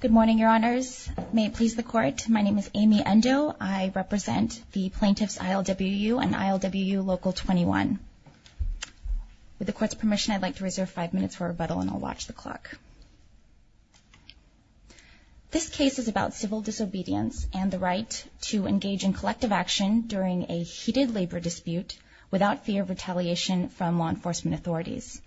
Good morning, Your Honors. May it please the Court, my name is Amy Endo. I represent the plaintiffs ILWU and ILWU Local 21. With the Court's permission, I'd like to reserve five minutes for rebuttal and I'll watch the clock. This case is about civil disobedience and the right to engage in collective action during a heated labor dispute without fear of retaliation from law enforcement authorities.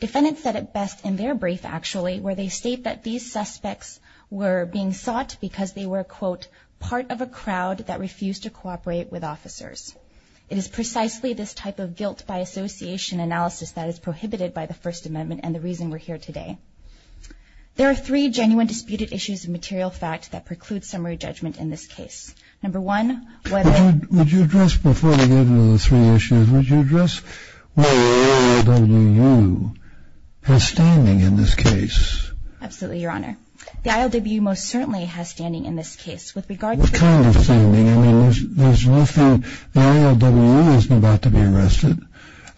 Defendants said it best in their brief, actually, where they state that these suspects were being sought because they were, quote, part of a crowd that refused to cooperate with officers. It is precisely this type of guilt-by-association analysis that is prohibited by the First Amendment and the reason we're here today. There are three genuine disputed issues of material fact that preclude summary judgment in this case. Number one, whether... Absolutely, Your Honor. The ILWU most certainly has standing in this case with regard to... What kind of standing? I mean, there's nothing... The ILWU isn't about to be arrested.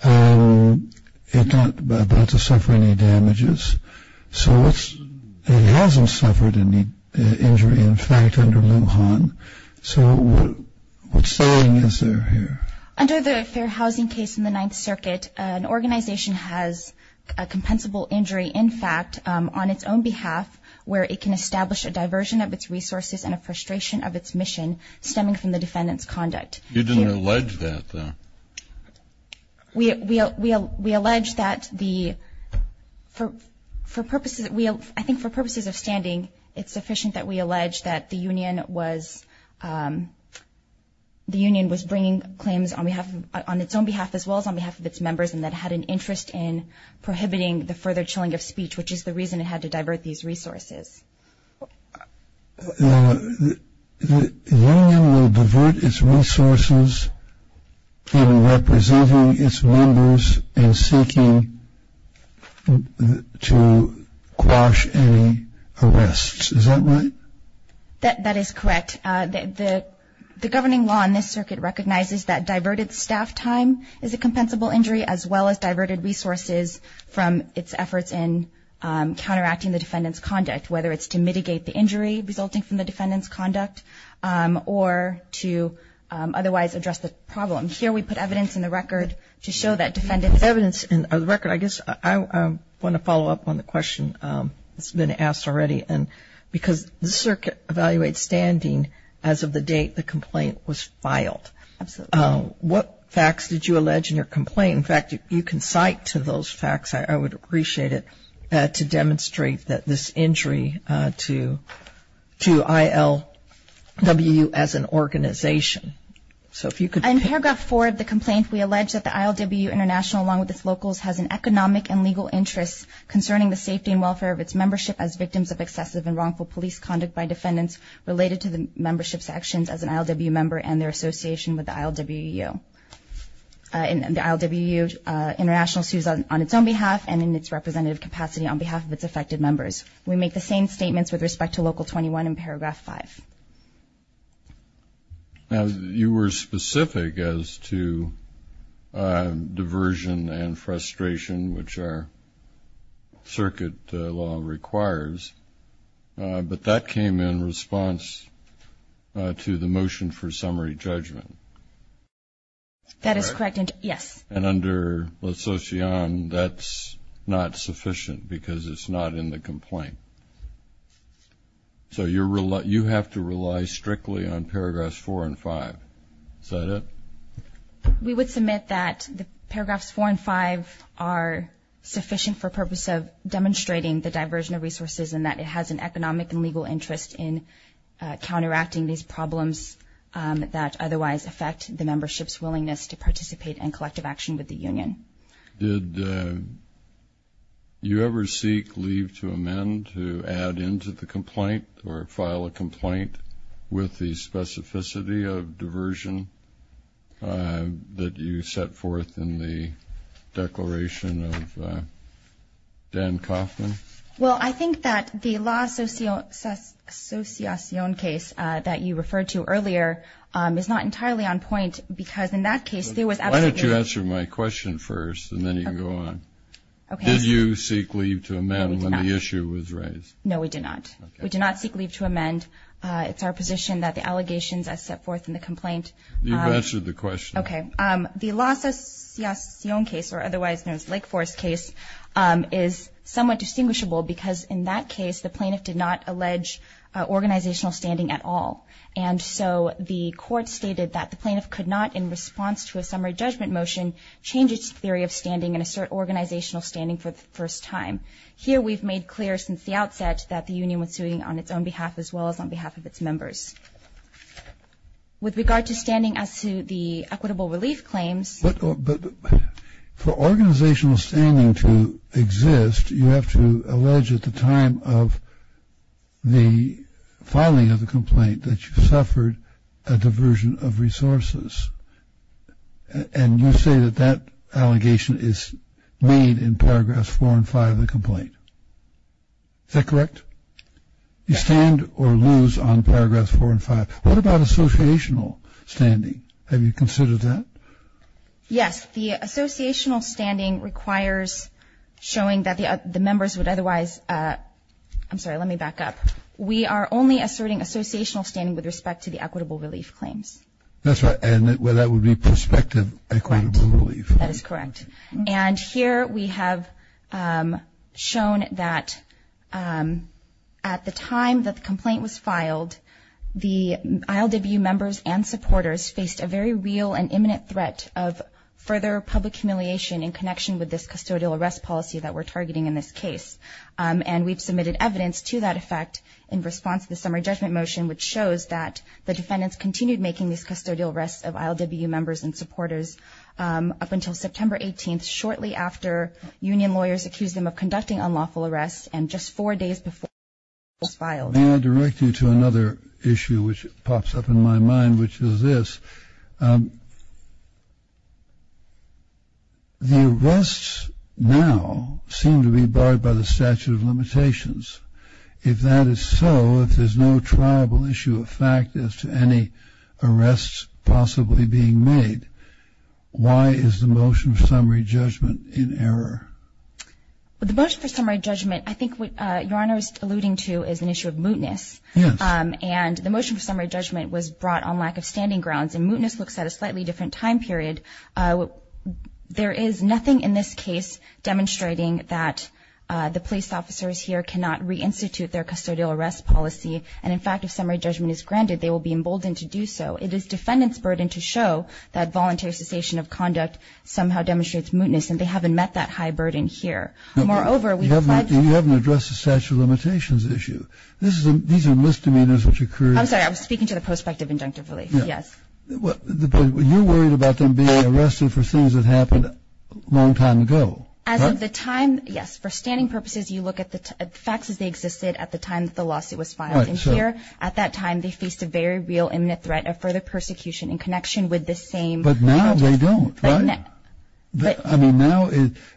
It's not about to suffer any damages. So it's... It hasn't suffered any injury, in fact, under Lujan. So what saying is there here? Under the Fair Housing case in the Ninth Circuit, an organization has a compensable injury, in fact, on its own behalf where it can establish a diversion of its resources and a frustration of its mission stemming from the defendant's conduct. You didn't allege that, though. We allege that the... For purposes... I think for purposes of standing, it's sufficient that we allege that the union was... The union was bringing claims on its own behalf as well as on behalf of its members and that it had an interest in prohibiting the further chilling of speech, which is the reason it had to divert these resources. The union will divert its resources in representing its members in seeking to quash any arrests. Is that right? That is correct. The governing law in this circuit recognizes that diverted staff time is a compensable injury as well as diverted resources from its efforts in counteracting the defendant's conduct, whether it's to mitigate the injury resulting from the defendant's conduct or to otherwise address the problem. Here we put evidence in the record to show that defendants... In the record, I guess I want to follow up on the question that's been asked already because this circuit evaluates standing as of the date the complaint was filed. Absolutely. What facts did you allege in your complaint? In fact, you can cite to those facts. I would appreciate it to demonstrate that this injury to ILWU as an organization. So if you could... In paragraph four of the complaint, we allege that the ILWU International, along with its locals, has an economic and legal interest concerning the safety and welfare of its membership as victims of excessive and wrongful police conduct by defendants related to the membership's actions as an ILWU member and their association with the ILWU. The ILWU International sues on its own behalf and in its representative capacity on behalf of its affected members. We make the same statements with respect to Local 21 in paragraph five. Now, you were specific as to diversion and frustration, which our circuit law requires, but that came in response to the motion for summary judgment. That is correct, yes. And under LaSocian, that's not sufficient because it's not in the complaint. So you have to rely strictly on paragraphs four and five. Is that it? We would submit that the paragraphs four and five are sufficient for the purpose of demonstrating the diversion of resources and that it has an economic and legal interest in counteracting these problems that otherwise affect the membership's willingness to participate in collective action with the union. Did you ever seek leave to amend to add into the complaint or file a complaint with the specificity of diversion that you set forth in the declaration of Dan Kaufman? Well, I think that the LaSociacion case that you referred to earlier is not entirely on point Why don't you answer my question first, and then you can go on. Did you seek leave to amend when the issue was raised? No, we did not. We did not seek leave to amend. It's our position that the allegations as set forth in the complaint You've answered the question. Okay. The LaSociacion case, or otherwise known as Lake Forest case, is somewhat distinguishable because in that case the plaintiff did not allege organizational standing at all. And so the court stated that the plaintiff could not, in response to a summary judgment motion, change its theory of standing and assert organizational standing for the first time. Here we've made clear since the outset that the union was suing on its own behalf as well as on behalf of its members. With regard to standing as to the equitable relief claims But for organizational standing to exist, you have to allege at the time of the filing of the complaint that you suffered a diversion of resources. And you say that that allegation is made in Paragraphs 4 and 5 of the complaint. Is that correct? You stand or lose on Paragraphs 4 and 5. What about associational standing? Have you considered that? Yes. The associational standing requires showing that the members would otherwise I'm sorry, let me back up. We are only asserting associational standing with respect to the equitable relief claims. That's right. And that would be prospective equitable relief. That is correct. And here we have shown that at the time that the complaint was filed, the ILWU members and supporters faced a very real and imminent threat of further public humiliation in connection with this custodial arrest policy that we're targeting in this case. And we've submitted evidence to that effect in response to the summary judgment motion, which shows that the defendants continued making these custodial arrests of ILWU members and supporters up until September 18th, shortly after union lawyers accused them of conducting unlawful arrests, and just four days before it was filed. May I direct you to another issue which pops up in my mind, which is this. The arrests now seem to be barred by the statute of limitations. If that is so, if there's no triable issue of fact as to any arrests possibly being made, why is the motion for summary judgment in error? The motion for summary judgment, I think what Your Honor is alluding to is an issue of mootness. Yes. And the motion for summary judgment was brought on lack of standing grounds, and mootness looks at a slightly different time period. There is nothing in this case demonstrating that the police officers here cannot reinstitute their custodial arrest policy. And, in fact, if summary judgment is granted, they will be emboldened to do so. It is defendants' burden to show that voluntary cessation of conduct somehow demonstrates mootness, and they haven't met that high burden here. Moreover, we've pledged to the statute of limitations issue. These are misdemeanors which occur. I'm sorry. I was speaking to the prospect of injunctive relief. Yes. But you're worried about them being arrested for things that happened a long time ago, right? As of the time, yes. For standing purposes, you look at the facts as they existed at the time that the lawsuit was filed. Right. And here, at that time, they faced a very real imminent threat of further persecution in connection with the same. But now they don't, right? I mean, now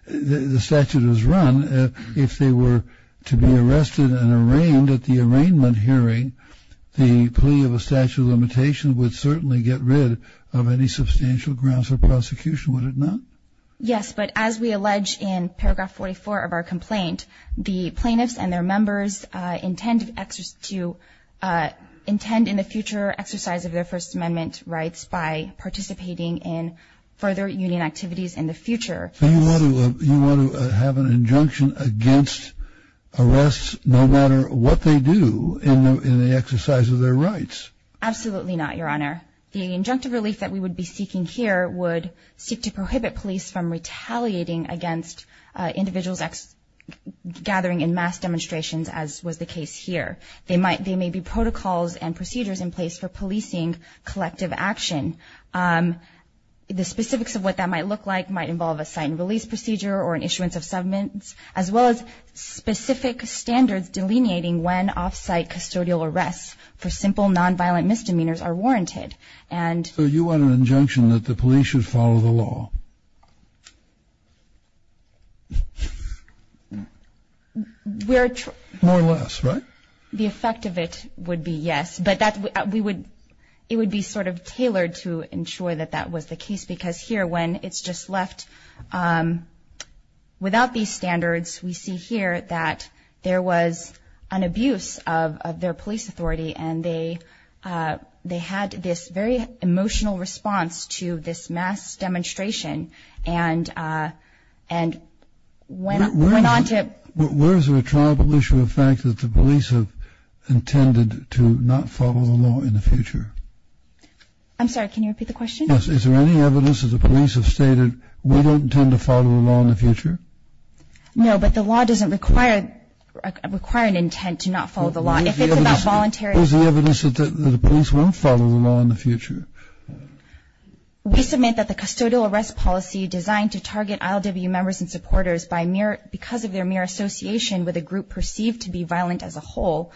the statute is run. If they were to be arrested and arraigned at the arraignment hearing, the plea of a statute of limitation would certainly get rid of any substantial grounds for prosecution, would it not? Yes. But as we allege in paragraph 44 of our complaint, the plaintiffs and their members intend in the future exercise of their First Amendment rights by participating in further union activities in the future. So you want to have an injunction against arrests no matter what they do in the exercise of their rights? Absolutely not, Your Honor. The injunctive relief that we would be seeking here would seek to prohibit police from retaliating against individuals gathering in mass demonstrations, as was the case here. There may be protocols and procedures in place for policing collective action. The specifics of what that might look like might involve a sight and release procedure or an issuance of summons, as well as specific standards delineating when off-site custodial arrests for simple nonviolent misdemeanors are warranted. So you want an injunction that the police should follow the law? More or less, right? The effect of it would be yes. But it would be sort of tailored to ensure that that was the case, because here when it's just left without these standards, we see here that there was an abuse of their police authority, and they had this very emotional response to this mass demonstration and went on to ---- Where is there a tribal issue of fact that the police have intended to not follow the law in the future? I'm sorry. Can you repeat the question? Yes. Is there any evidence that the police have stated we don't intend to follow the law in the future? No, but the law doesn't require an intent to not follow the law. If it's about voluntary---- Where is the evidence that the police won't follow the law in the future? We submit that the custodial arrest policy designed to target ILWU members and supporters because of their mere association with a group perceived to be violent as a whole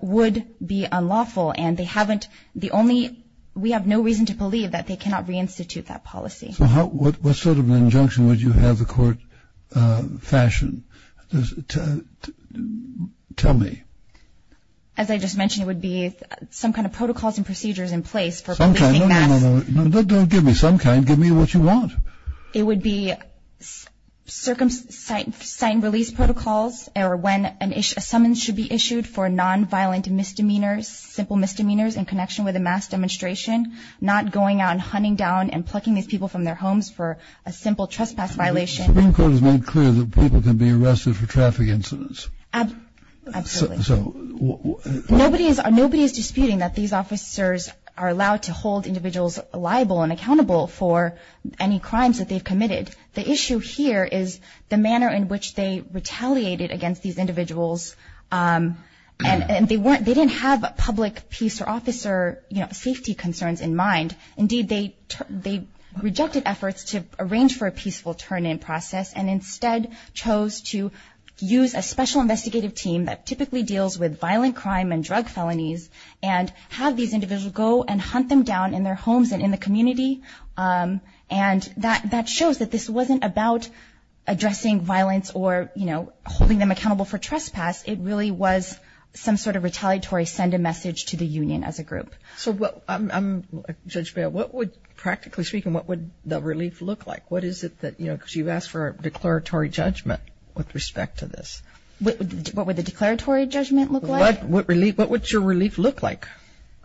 would be unlawful, and we have no reason to believe that they cannot reinstitute that policy. So what sort of an injunction would you have the court fashion? Tell me. As I just mentioned, it would be some kind of protocols and procedures in place for---- No, no, no. Don't give me some kind. Give me what you want. It would be circumcised release protocols or when a summons should be issued for nonviolent misdemeanors, simple misdemeanors in connection with a mass demonstration, not going out and hunting down and plucking these people from their homes for a simple trespass violation. The Supreme Court has made clear that people can be arrested for traffic incidents. Absolutely. Nobody is disputing that these officers are allowed to hold individuals liable and accountable for any crimes that they've committed. The issue here is the manner in which they retaliated against these individuals, and they didn't have public peace or officer safety concerns in mind. Indeed, they rejected efforts to arrange for a peaceful turn in process and instead chose to use a special investigative team that typically deals with violent crime and drug felonies and have these individuals go and hunt them down in their homes and in the community. And that shows that this wasn't about addressing violence or, you know, holding them accountable for trespass. It really was some sort of retaliatory send a message to the union as a group. So, Judge Mayo, what would practically speaking, what would the relief look like? What is it that, you know, because you've asked for a declaratory judgment with respect to this. What would the declaratory judgment look like? What would your relief look like?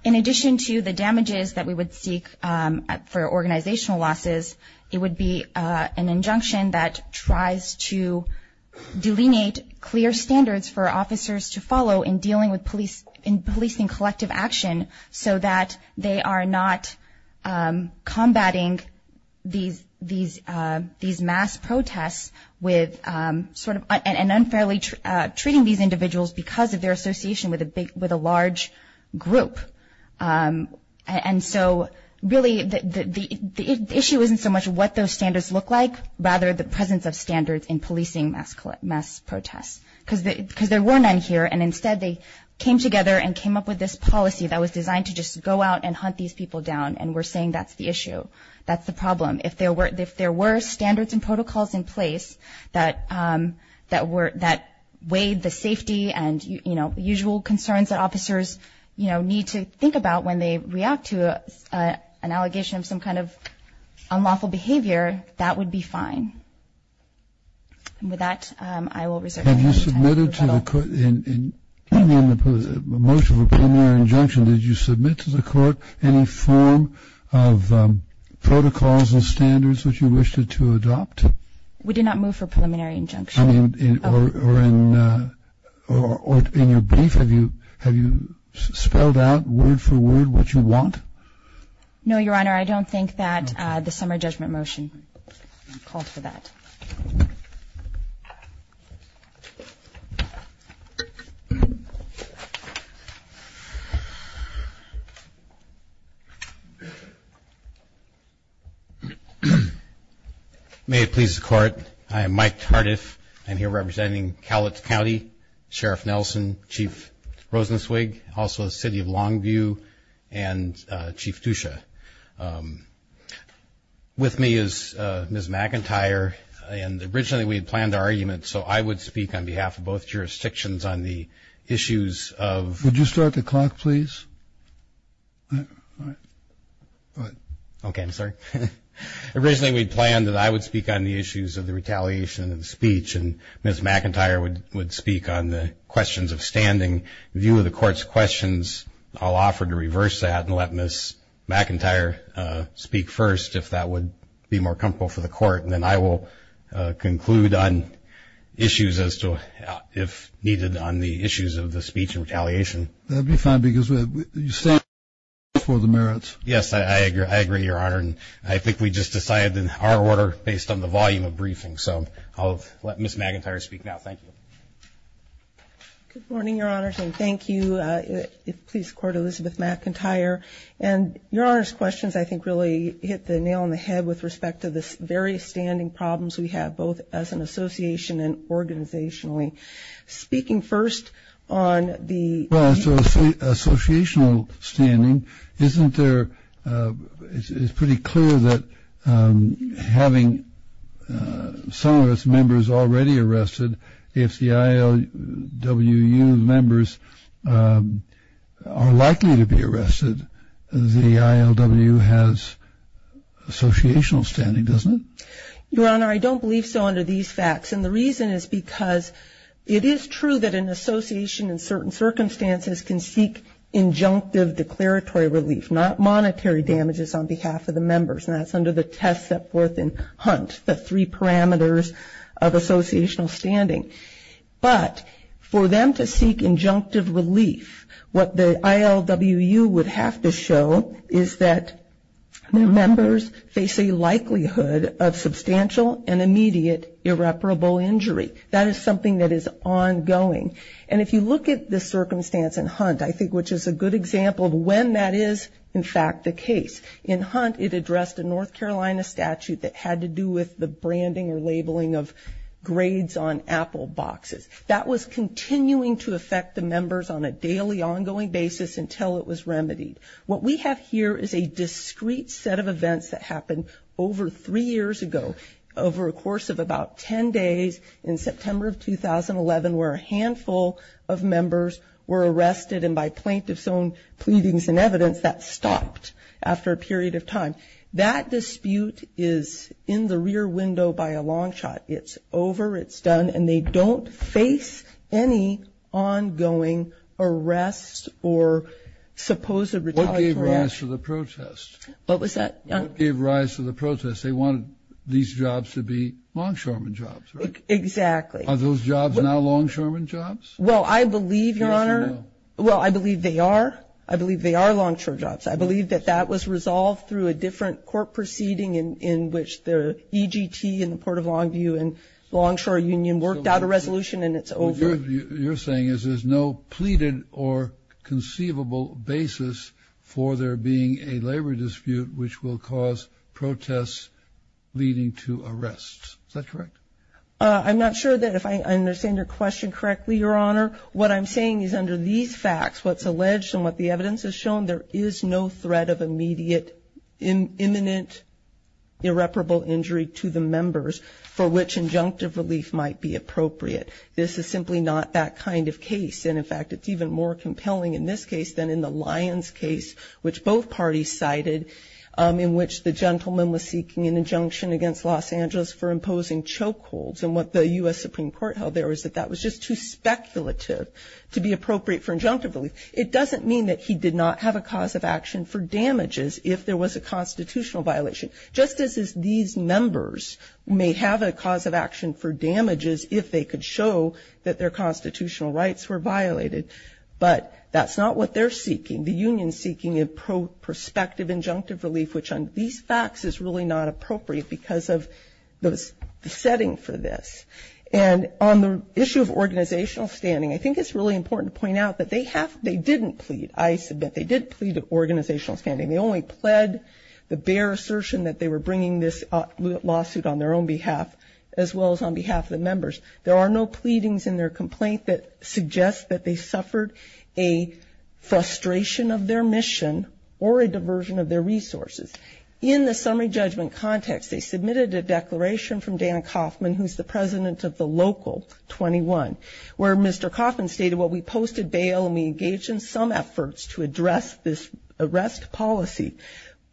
In addition to the damages that we would seek for organizational losses, it would be an injunction that tries to delineate clear standards for officers to follow in dealing with policing collective action so that they are not combating these mass protests and unfairly treating these individuals because of their association with a large group. And so, really, the issue isn't so much what those standards look like, rather the presence of standards in policing mass protests. Because there were none here, and instead they came together and came up with this policy that was designed to just go out and hunt these people down, and we're saying that's the issue. That's the problem. If there were standards and protocols in place that weighed the safety and, you know, the usual concerns that officers, you know, need to think about when they react to an allegation of some kind of unlawful behavior, that would be fine. And with that, I will reserve the time for questions. Have you submitted to the court in the motion for preliminary injunction, did you submit to the court any form of protocols and standards that you wished to adopt? We did not move for preliminary injunction. I mean, or in your brief, have you spelled out word for word what you want? No, Your Honor. I don't think that the summer judgment motion called for that. May it please the Court. I am Mike Tardif. I'm here representing Cowlitz County, Sheriff Nelson, Chief Rosenzweig, also the City of Longview, and Chief Dusha. With me is Ms. McIntyre, and originally we had planned an argument, so I would speak on behalf of both jurisdictions on the issues of. Would you start the clock, please? Okay, I'm sorry. Originally we planned that I would speak on the issues of the retaliation and speech, and Ms. McIntyre would speak on the questions of standing. In view of the Court's questions, I'll offer to reverse that and let Ms. McIntyre speak first if that would be more comfortable for the Court, and then I will conclude on issues as to if needed on the issues of the speech and retaliation. That would be fine because you stand for the merits. Yes, I agree, Your Honor, and I think we just decided in our order based on the volume of briefing, so I'll let Ms. McIntyre speak now. Thank you. Good morning, Your Honor, and thank you. Please record Elizabeth McIntyre, and Your Honor's questions I think really hit the nail on the head with respect to the various standing problems we have, both as an association and organizationally. Speaking first on the- Well, as to associational standing, isn't there, it's pretty clear that having some of its members already arrested, if the ILWU members are likely to be arrested, the ILWU has associational standing, doesn't it? Your Honor, I don't believe so under these facts, and the reason is because it is true that an association in certain circumstances can seek injunctive declaratory relief, not monetary damages on behalf of the members, and that's under the test set forth in Hunt, the three parameters of associational standing. But for them to seek injunctive relief, what the ILWU would have to show is that members face a likelihood of substantial and immediate irreparable injury. That is something that is ongoing. And if you look at the circumstance in Hunt, I think, which is a good example of when that is, in fact, the case. In Hunt, it addressed a North Carolina statute that had to do with the branding or labeling of grades on Apple boxes. That was continuing to affect the members on a daily, ongoing basis until it was remedied. What we have here is a discrete set of events that happened over three years ago, over a course of about ten days, in September of 2011, where a handful of members were arrested, and by plaintiff's own pleadings and evidence, that stopped after a period of time. That dispute is in the rear window by a long shot. It's over. It's done. And they don't face any ongoing arrests or supposed retaliatory action. What gave rise to the protest? What was that? What gave rise to the protest? They wanted these jobs to be longshoremen jobs, right? Exactly. Are those jobs now longshoremen jobs? Well, I believe, Your Honor. Well, I believe they are. I believe they are longshore jobs. I believe that that was resolved through a different court proceeding in which the EGT and the Port of Longview and the Longshore Union worked out a resolution, and it's over. What you're saying is there's no pleaded or conceivable basis for there being a labor dispute which will cause protests leading to arrests. Is that correct? I'm not sure that if I understand your question correctly, Your Honor. What I'm saying is under these facts, what's alleged and what the evidence has shown, there is no threat of immediate imminent irreparable injury to the members for which injunctive relief might be appropriate. This is simply not that kind of case. And, in fact, it's even more compelling in this case than in the Lyons case, which both parties cited, in which the gentleman was seeking an injunction against Los Angeles for imposing chokeholds. And what the U.S. Supreme Court held there was that that was just too speculative to be appropriate for injunctive relief. It doesn't mean that he did not have a cause of action for damages if there was a constitutional violation. Just as these members may have a cause of action for damages if they could show that their constitutional rights were violated, but that's not what they're seeking. The union is seeking a prospective injunctive relief, which under these facts is really not appropriate because of the setting for this. And on the issue of organizational standing, I think it's really important to point out that they didn't plead. I submit they did plead organizational standing. They only pled the bare assertion that they were bringing this lawsuit on their own behalf as well as on behalf of the members. There are no pleadings in their complaint that suggests that they suffered a frustration of their mission or a diversion of their resources. In the summary judgment context, they submitted a declaration from Dan Coffman, who's the president of the local 21, where Mr. Coffman stated, well, we posted bail and we engaged in some efforts to address this arrest policy.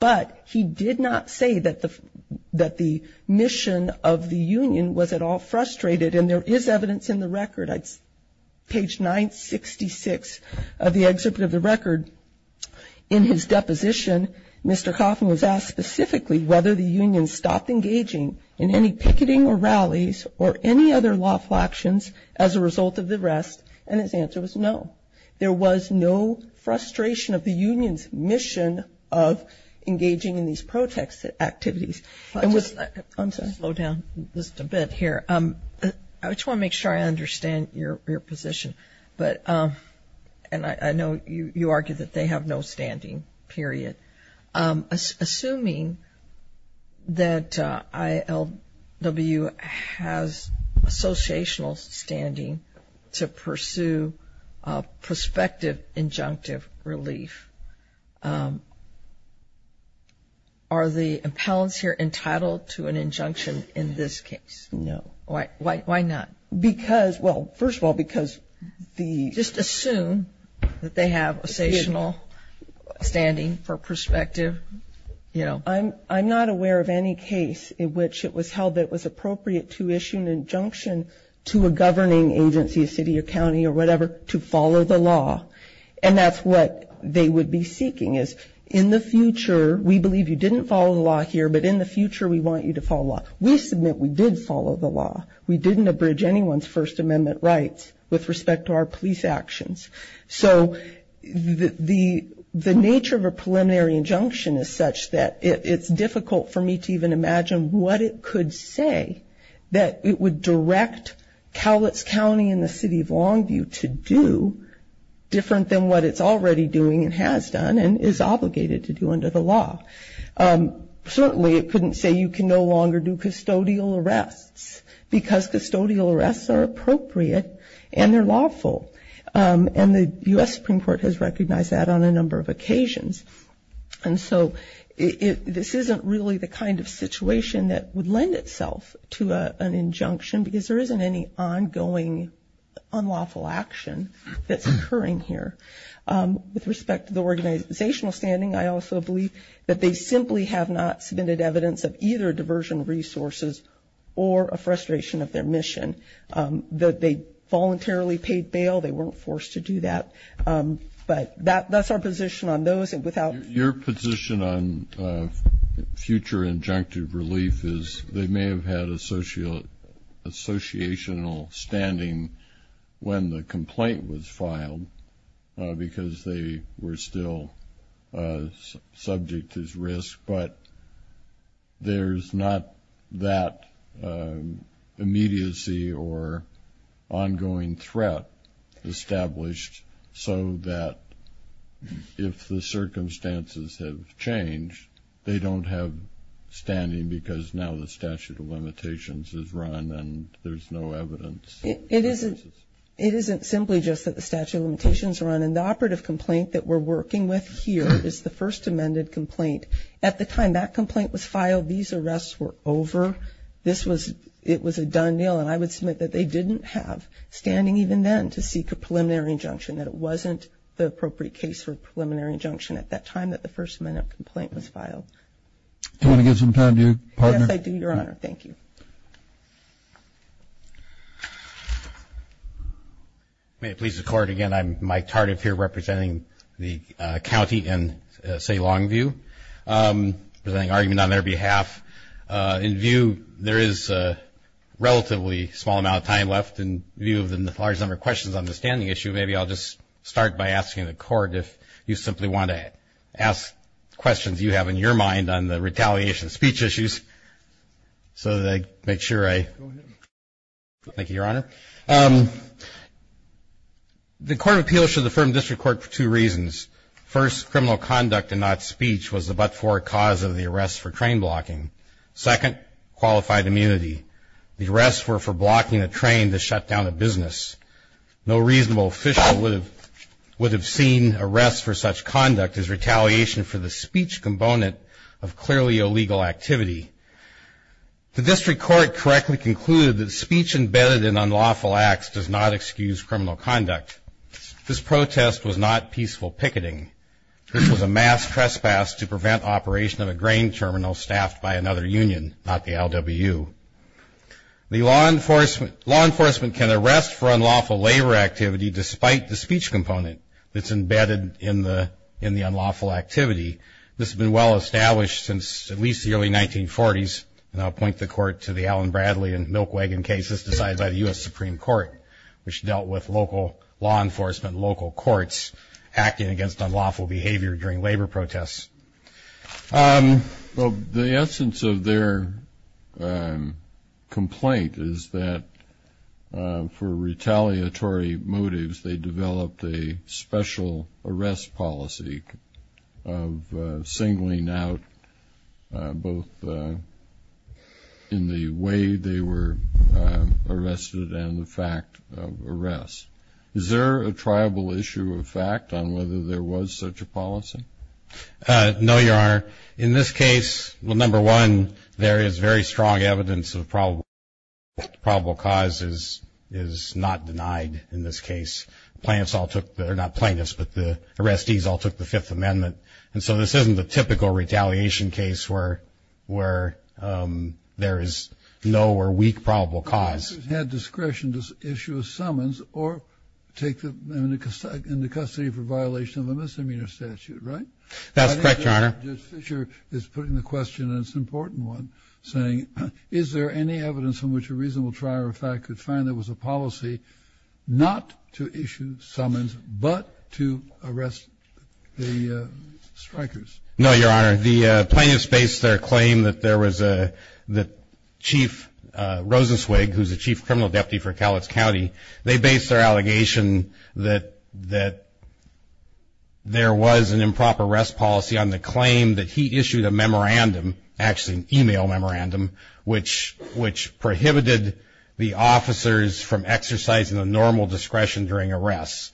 But he did not say that the mission of the union was at all frustrated, and there is evidence in the record. Page 966 of the exhibit of the record, in his deposition, Mr. Coffman was asked specifically whether the union stopped engaging in any picketing or rallies or any other lawful actions as a result of the arrest, and his answer was no. There was no frustration of the union's mission of engaging in these protest activities. I'm going to slow down just a bit here. I just want to make sure I understand your position. And I know you argue that they have no standing, period. Assuming that ILW has associational standing to pursue prospective injunctive relief, are the appellants here entitled to an injunction in this case? No. Why not? Because, well, first of all, because the ‑‑ Just assume that they have associational standing for prospective, you know. I'm not aware of any case in which it was held that it was appropriate to issue an injunction to a governing agency, a city or county or whatever, to follow the law. And that's what they would be seeking is in the future, we believe you didn't follow the law here, but in the future we want you to follow the law. We submit we did follow the law. We didn't abridge anyone's First Amendment rights with respect to our police actions. So the nature of a preliminary injunction is such that it's difficult for me to even imagine what it could say that it would direct Cowlitz County and the City of Longview to do different than what it's already doing and has done and is obligated to do under the law. Certainly it couldn't say you can no longer do custodial arrests because custodial arrests are appropriate and they're lawful. And the U.S. Supreme Court has recognized that on a number of occasions. And so this isn't really the kind of situation that would lend itself to an injunction because there isn't any ongoing unlawful action that's occurring here. With respect to the organizational standing, I also believe that they simply have not submitted evidence of either diversion resources or a frustration of their mission, that they voluntarily paid bail, they weren't forced to do that. But that's our position on those. Your position on future injunctive relief is they may have had associational standing when the complaint was filed because they were still subject to this risk, but there's not that immediacy or ongoing threat established so that if the circumstances have changed, they don't have standing because now the statute of limitations is run and there's no evidence. It isn't simply just that the statute of limitations is run. And the operative complaint that we're working with here is the first amended complaint. At the time that complaint was filed, these arrests were over. It was a done deal. And I would submit that they didn't have standing even then to seek a preliminary injunction, that it wasn't the appropriate case for a preliminary injunction at that time that the first amendment complaint was filed. Do you want to give some time to your partner? Yes, I do, Your Honor. Thank you. May it please the Court. Again, I'm Mike Tardiff here representing the county in, say, Longview, presenting argument on their behalf. In view, there is a relatively small amount of time left in view of the large number of questions on the standing issue. Maybe I'll just start by asking the Court if you simply want to ask questions you have in your mind on the retaliation speech issues. So that I make sure I go ahead. Thank you, Your Honor. The Court of Appeals should affirm district court for two reasons. First, criminal conduct and not speech was the but-for cause of the arrest for train blocking. Second, qualified immunity. The arrests were for blocking a train to shut down a business. No reasonable official would have seen arrests for such conduct as retaliation for the speech component of clearly illegal activity. The district court correctly concluded that speech embedded in unlawful acts does not excuse criminal conduct. This protest was not peaceful picketing. This was a mass trespass to prevent operation of a grain terminal staffed by another union, not the LWU. The law enforcement can arrest for unlawful labor activity despite the speech component that's embedded in the unlawful activity. This has been well established since at least the early 1940s, and I'll point the Court to the Allen Bradley and Milk Wagon cases decided by the U.S. Supreme Court, which dealt with local law enforcement, local courts acting against unlawful behavior during labor protests. The essence of their complaint is that for retaliatory motives, they developed a special arrest policy of singling out both in the way they were arrested and the fact of arrest. Is there a tribal issue of fact on whether there was such a policy? No, Your Honor. In this case, number one, there is very strong evidence of probable cause is not denied in this case. Plaintiffs all took, not plaintiffs, but the arrestees all took the Fifth Amendment, and so this isn't the typical retaliation case where there is no or weak probable cause. Plaintiffs had discretion to issue a summons or take them into custody for violation of a misdemeanor statute, right? That's correct, Your Honor. I think Judge Fischer is putting the question, and it's an important one, saying, is there any evidence from which a reasonable trier of fact could find there was a policy not to issue summons but to arrest the strikers? No, Your Honor. The plaintiffs based their claim that Chief Rosenzweig, who's the chief criminal deputy for Cowlitz County, they based their allegation that there was an improper arrest policy on the claim that he issued a memorandum, actually an e-mail memorandum, which prohibited the officers from exercising the normal discretion during arrests.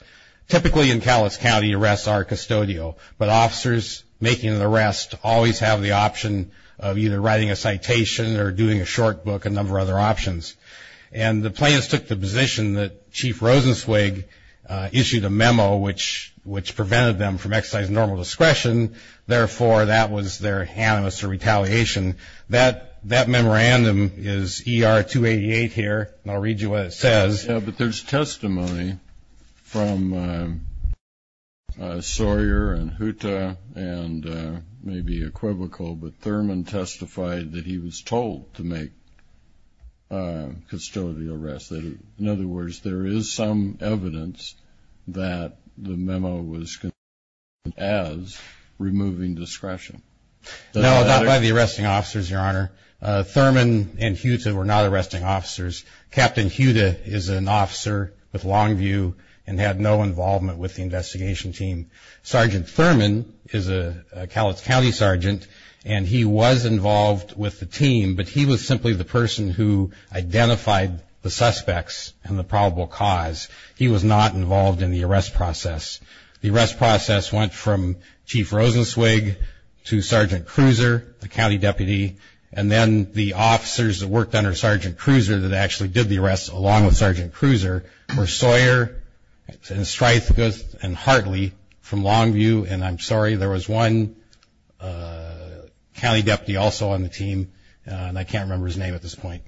Typically, in Cowlitz County, arrests are custodial, but officers making an arrest always have the option of either writing a citation or doing a short book, a number of other options. And the plaintiffs took the position that Chief Rosenzweig issued a memo, which prevented them from exercising normal discretion, therefore, that was their animus or retaliation. That memorandum is ER-288 here, and I'll read you what it says. Yeah, but there's testimony from Sawyer and Huta and maybe Equivocal, but Thurman testified that he was told to make custodial arrests. In other words, there is some evidence that the memo was considered as removing discretion. No, not by the arresting officers, Your Honor. Thurman and Huta were not arresting officers. Captain Huta is an officer with Longview and had no involvement with the investigation team. Sergeant Thurman is a Cowlitz County sergeant, and he was involved with the team, but he was simply the person who identified the suspects and the probable cause. He was not involved in the arrest process. The arrest process went from Chief Rosenzweig to Sergeant Cruiser, the county deputy, and then the officers that worked under Sergeant Cruiser that actually did the arrest, along with Sergeant Cruiser, were Sawyer and Stryfka and Hartley from Longview. And I'm sorry, there was one county deputy also on the team, and I can't remember his name at this point.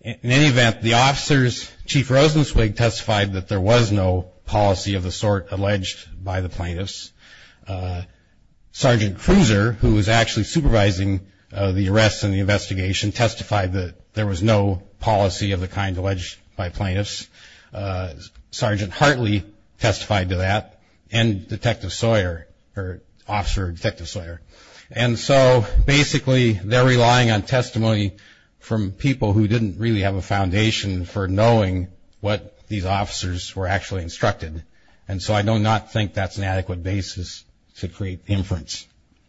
In any event, the officers, Chief Rosenzweig testified that there was no policy of the sort alleged by the plaintiffs. Sergeant Cruiser, who was actually supervising the arrests and the investigation, testified that there was no policy of the kind alleged by plaintiffs. Sergeant Hartley testified to that, and Detective Sawyer, or Officer Detective Sawyer. And so basically they're relying on testimony from people who didn't really have a foundation for knowing what these officers were actually instructed. And so I do not think that's an adequate basis to create inference.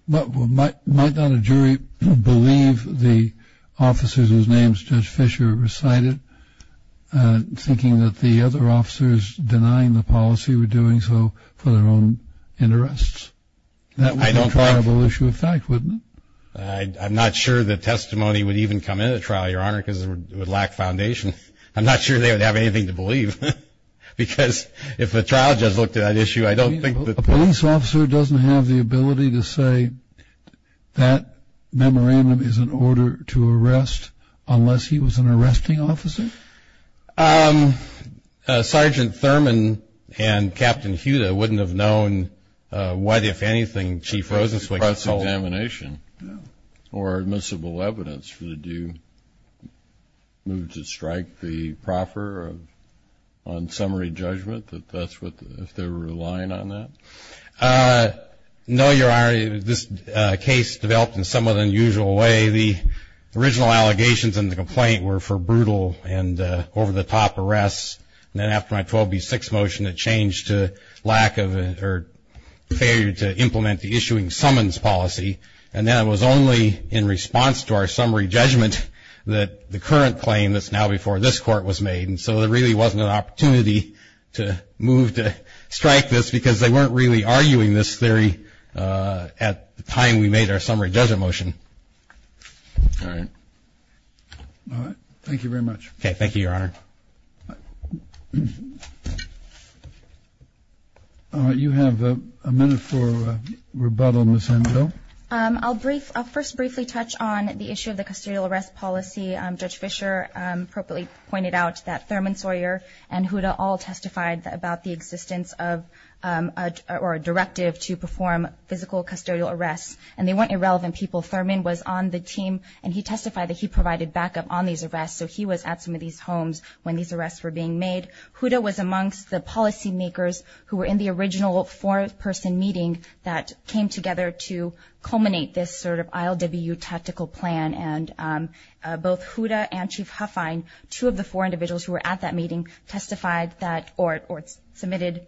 But might not a jury believe the officers whose names Judge Fisher recited, thinking that the other officers denying the policy were doing so for their own interests? That would be a terrible issue of fact, wouldn't it? I'm not sure that testimony would even come into trial, Your Honor, because it would lack foundation. I'm not sure they would have anything to believe. Because if a trial judge looked at that issue, I don't think that... A police officer doesn't have the ability to say that memorandum is in order to arrest, unless he was an arresting officer? Sergeant Thurman and Captain Huda wouldn't have known what, if anything, Chief Rosenzweig told. Or admissible evidence. Would you move to strike the proffer on summary judgment, if they were relying on that? No, Your Honor. This case developed in a somewhat unusual way. The original allegations in the complaint were for brutal and over-the-top arrests. And then after my 12B6 motion, it changed to lack of or failure to implement the issuing summons policy. And then it was only in response to our summary judgment that the current claim, that's now before this Court, was made. And so there really wasn't an opportunity to move to strike this, because they weren't really arguing this theory at the time we made our summary judgment motion. All right. Thank you very much. Okay, thank you, Your Honor. You have a minute for rebuttal, Ms. Angel. I'll first briefly touch on the issue of the custodial arrest policy. Judge Fischer appropriately pointed out that Thurman, Sawyer, and Huda all testified about the existence of a directive to perform physical custodial arrests. And they weren't irrelevant people. Thurman was on the team, and he testified that he provided backup on these arrests. So he was at some of these homes when these arrests were being made. Huda was amongst the policymakers who were in the original four-person meeting that came together to culminate this sort of ILWU tactical plan. And both Huda and Chief Huffine, two of the four individuals who were at that meeting, testified that or submitted,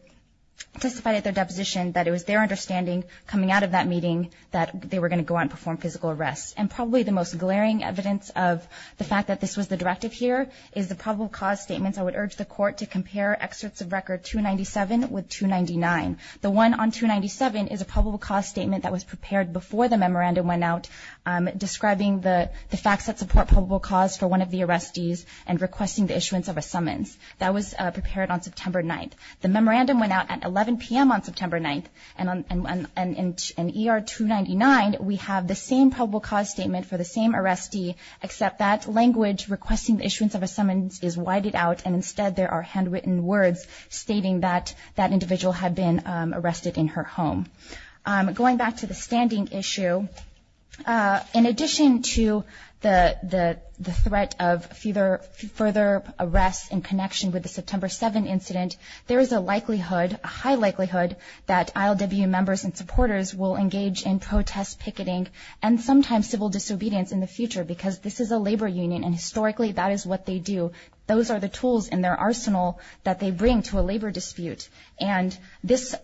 testified at their deposition that it was their understanding coming out of that meeting that they were going to go out and perform physical arrests. And probably the most glaring evidence of the fact that this was the directive here is the probable cause statements. I would urge the Court to compare excerpts of Record 297 with 299. The one on 297 is a probable cause statement that was prepared before the memorandum went out, describing the facts that support probable cause for one of the arrestees and requesting the issuance of a summons. That was prepared on September 9th. The memorandum went out at 11 p.m. on September 9th. And in ER 299, we have the same probable cause statement for the same arrestee, except that language requesting the issuance of a summons is whited out, and instead there are handwritten words stating that that individual had been arrested in her home. Going back to the standing issue, in addition to the threat of further arrests in connection with the September 7 incident, there is a likelihood, a high likelihood, that ILWU members and supporters will engage in protest picketing and sometimes civil disobedience in the future because this is a labor union, and historically that is what they do. Those are the tools in their arsenal that they bring to a labor dispute. And this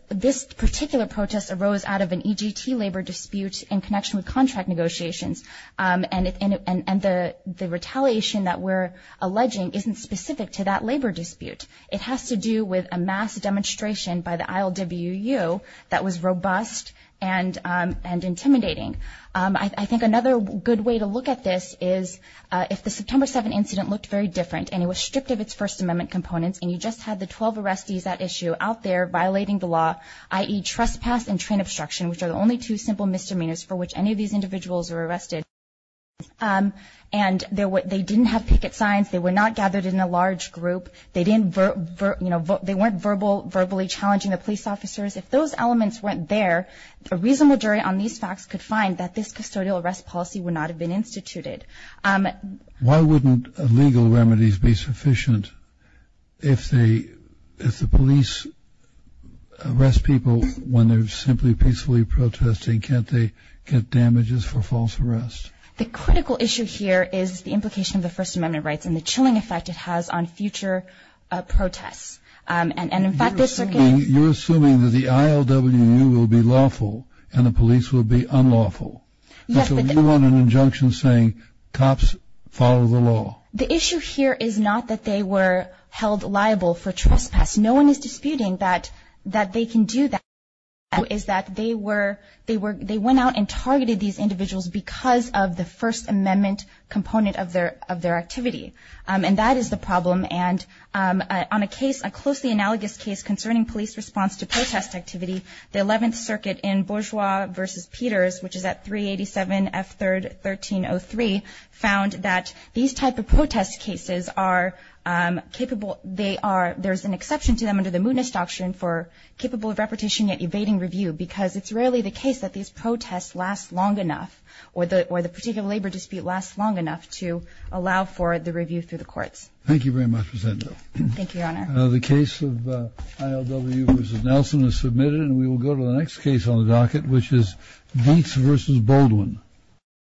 particular protest arose out of an EGT labor dispute in connection with contract negotiations, and the retaliation that we're alleging isn't specific to that labor dispute. It has to do with a mass demonstration by the ILWU that was robust and intimidating. I think another good way to look at this is if the September 7 incident looked very different and it was stripped of its First Amendment components and you just had the 12 arrestees at issue out there violating the law, i.e., trespass and train obstruction, which are the only two simple misdemeanors for which any of these individuals were arrested, and they didn't have picket signs, they were not gathered in a large group, they weren't verbally challenging the police officers, if those elements weren't there, a reasonable jury on these facts could find that this custodial arrest policy would not have been instituted. Why wouldn't legal remedies be sufficient if the police arrest people when they're simply peacefully protesting? Can't they get damages for false arrests? The critical issue here is the implication of the First Amendment rights and the chilling effect it has on future protests. You're assuming that the ILWU will be lawful and the police will be unlawful. So you're on an injunction saying cops follow the law. The issue here is not that they were held liable for trespass. No one is disputing that they can do that. The issue is that they went out and targeted these individuals because of the First Amendment component of their activity. And that is the problem. And on a case, a closely analogous case concerning police response to protest activity, the 11th Circuit in Bourgeois v. Peters, which is at 387 F. 3rd, 1303, found that these type of protest cases are capable, there's an exception to them under the Moodness Doctrine, for capable of repetition yet evading review because it's rarely the case that these protests last long enough or the particular labor dispute lasts long enough to allow for the review through the courts. Thank you very much, Ms. Edna. Thank you, Your Honor. The case of ILWU v. Nelson is submitted, and we will go to the next case on the docket, which is Dietz v. Baldwin.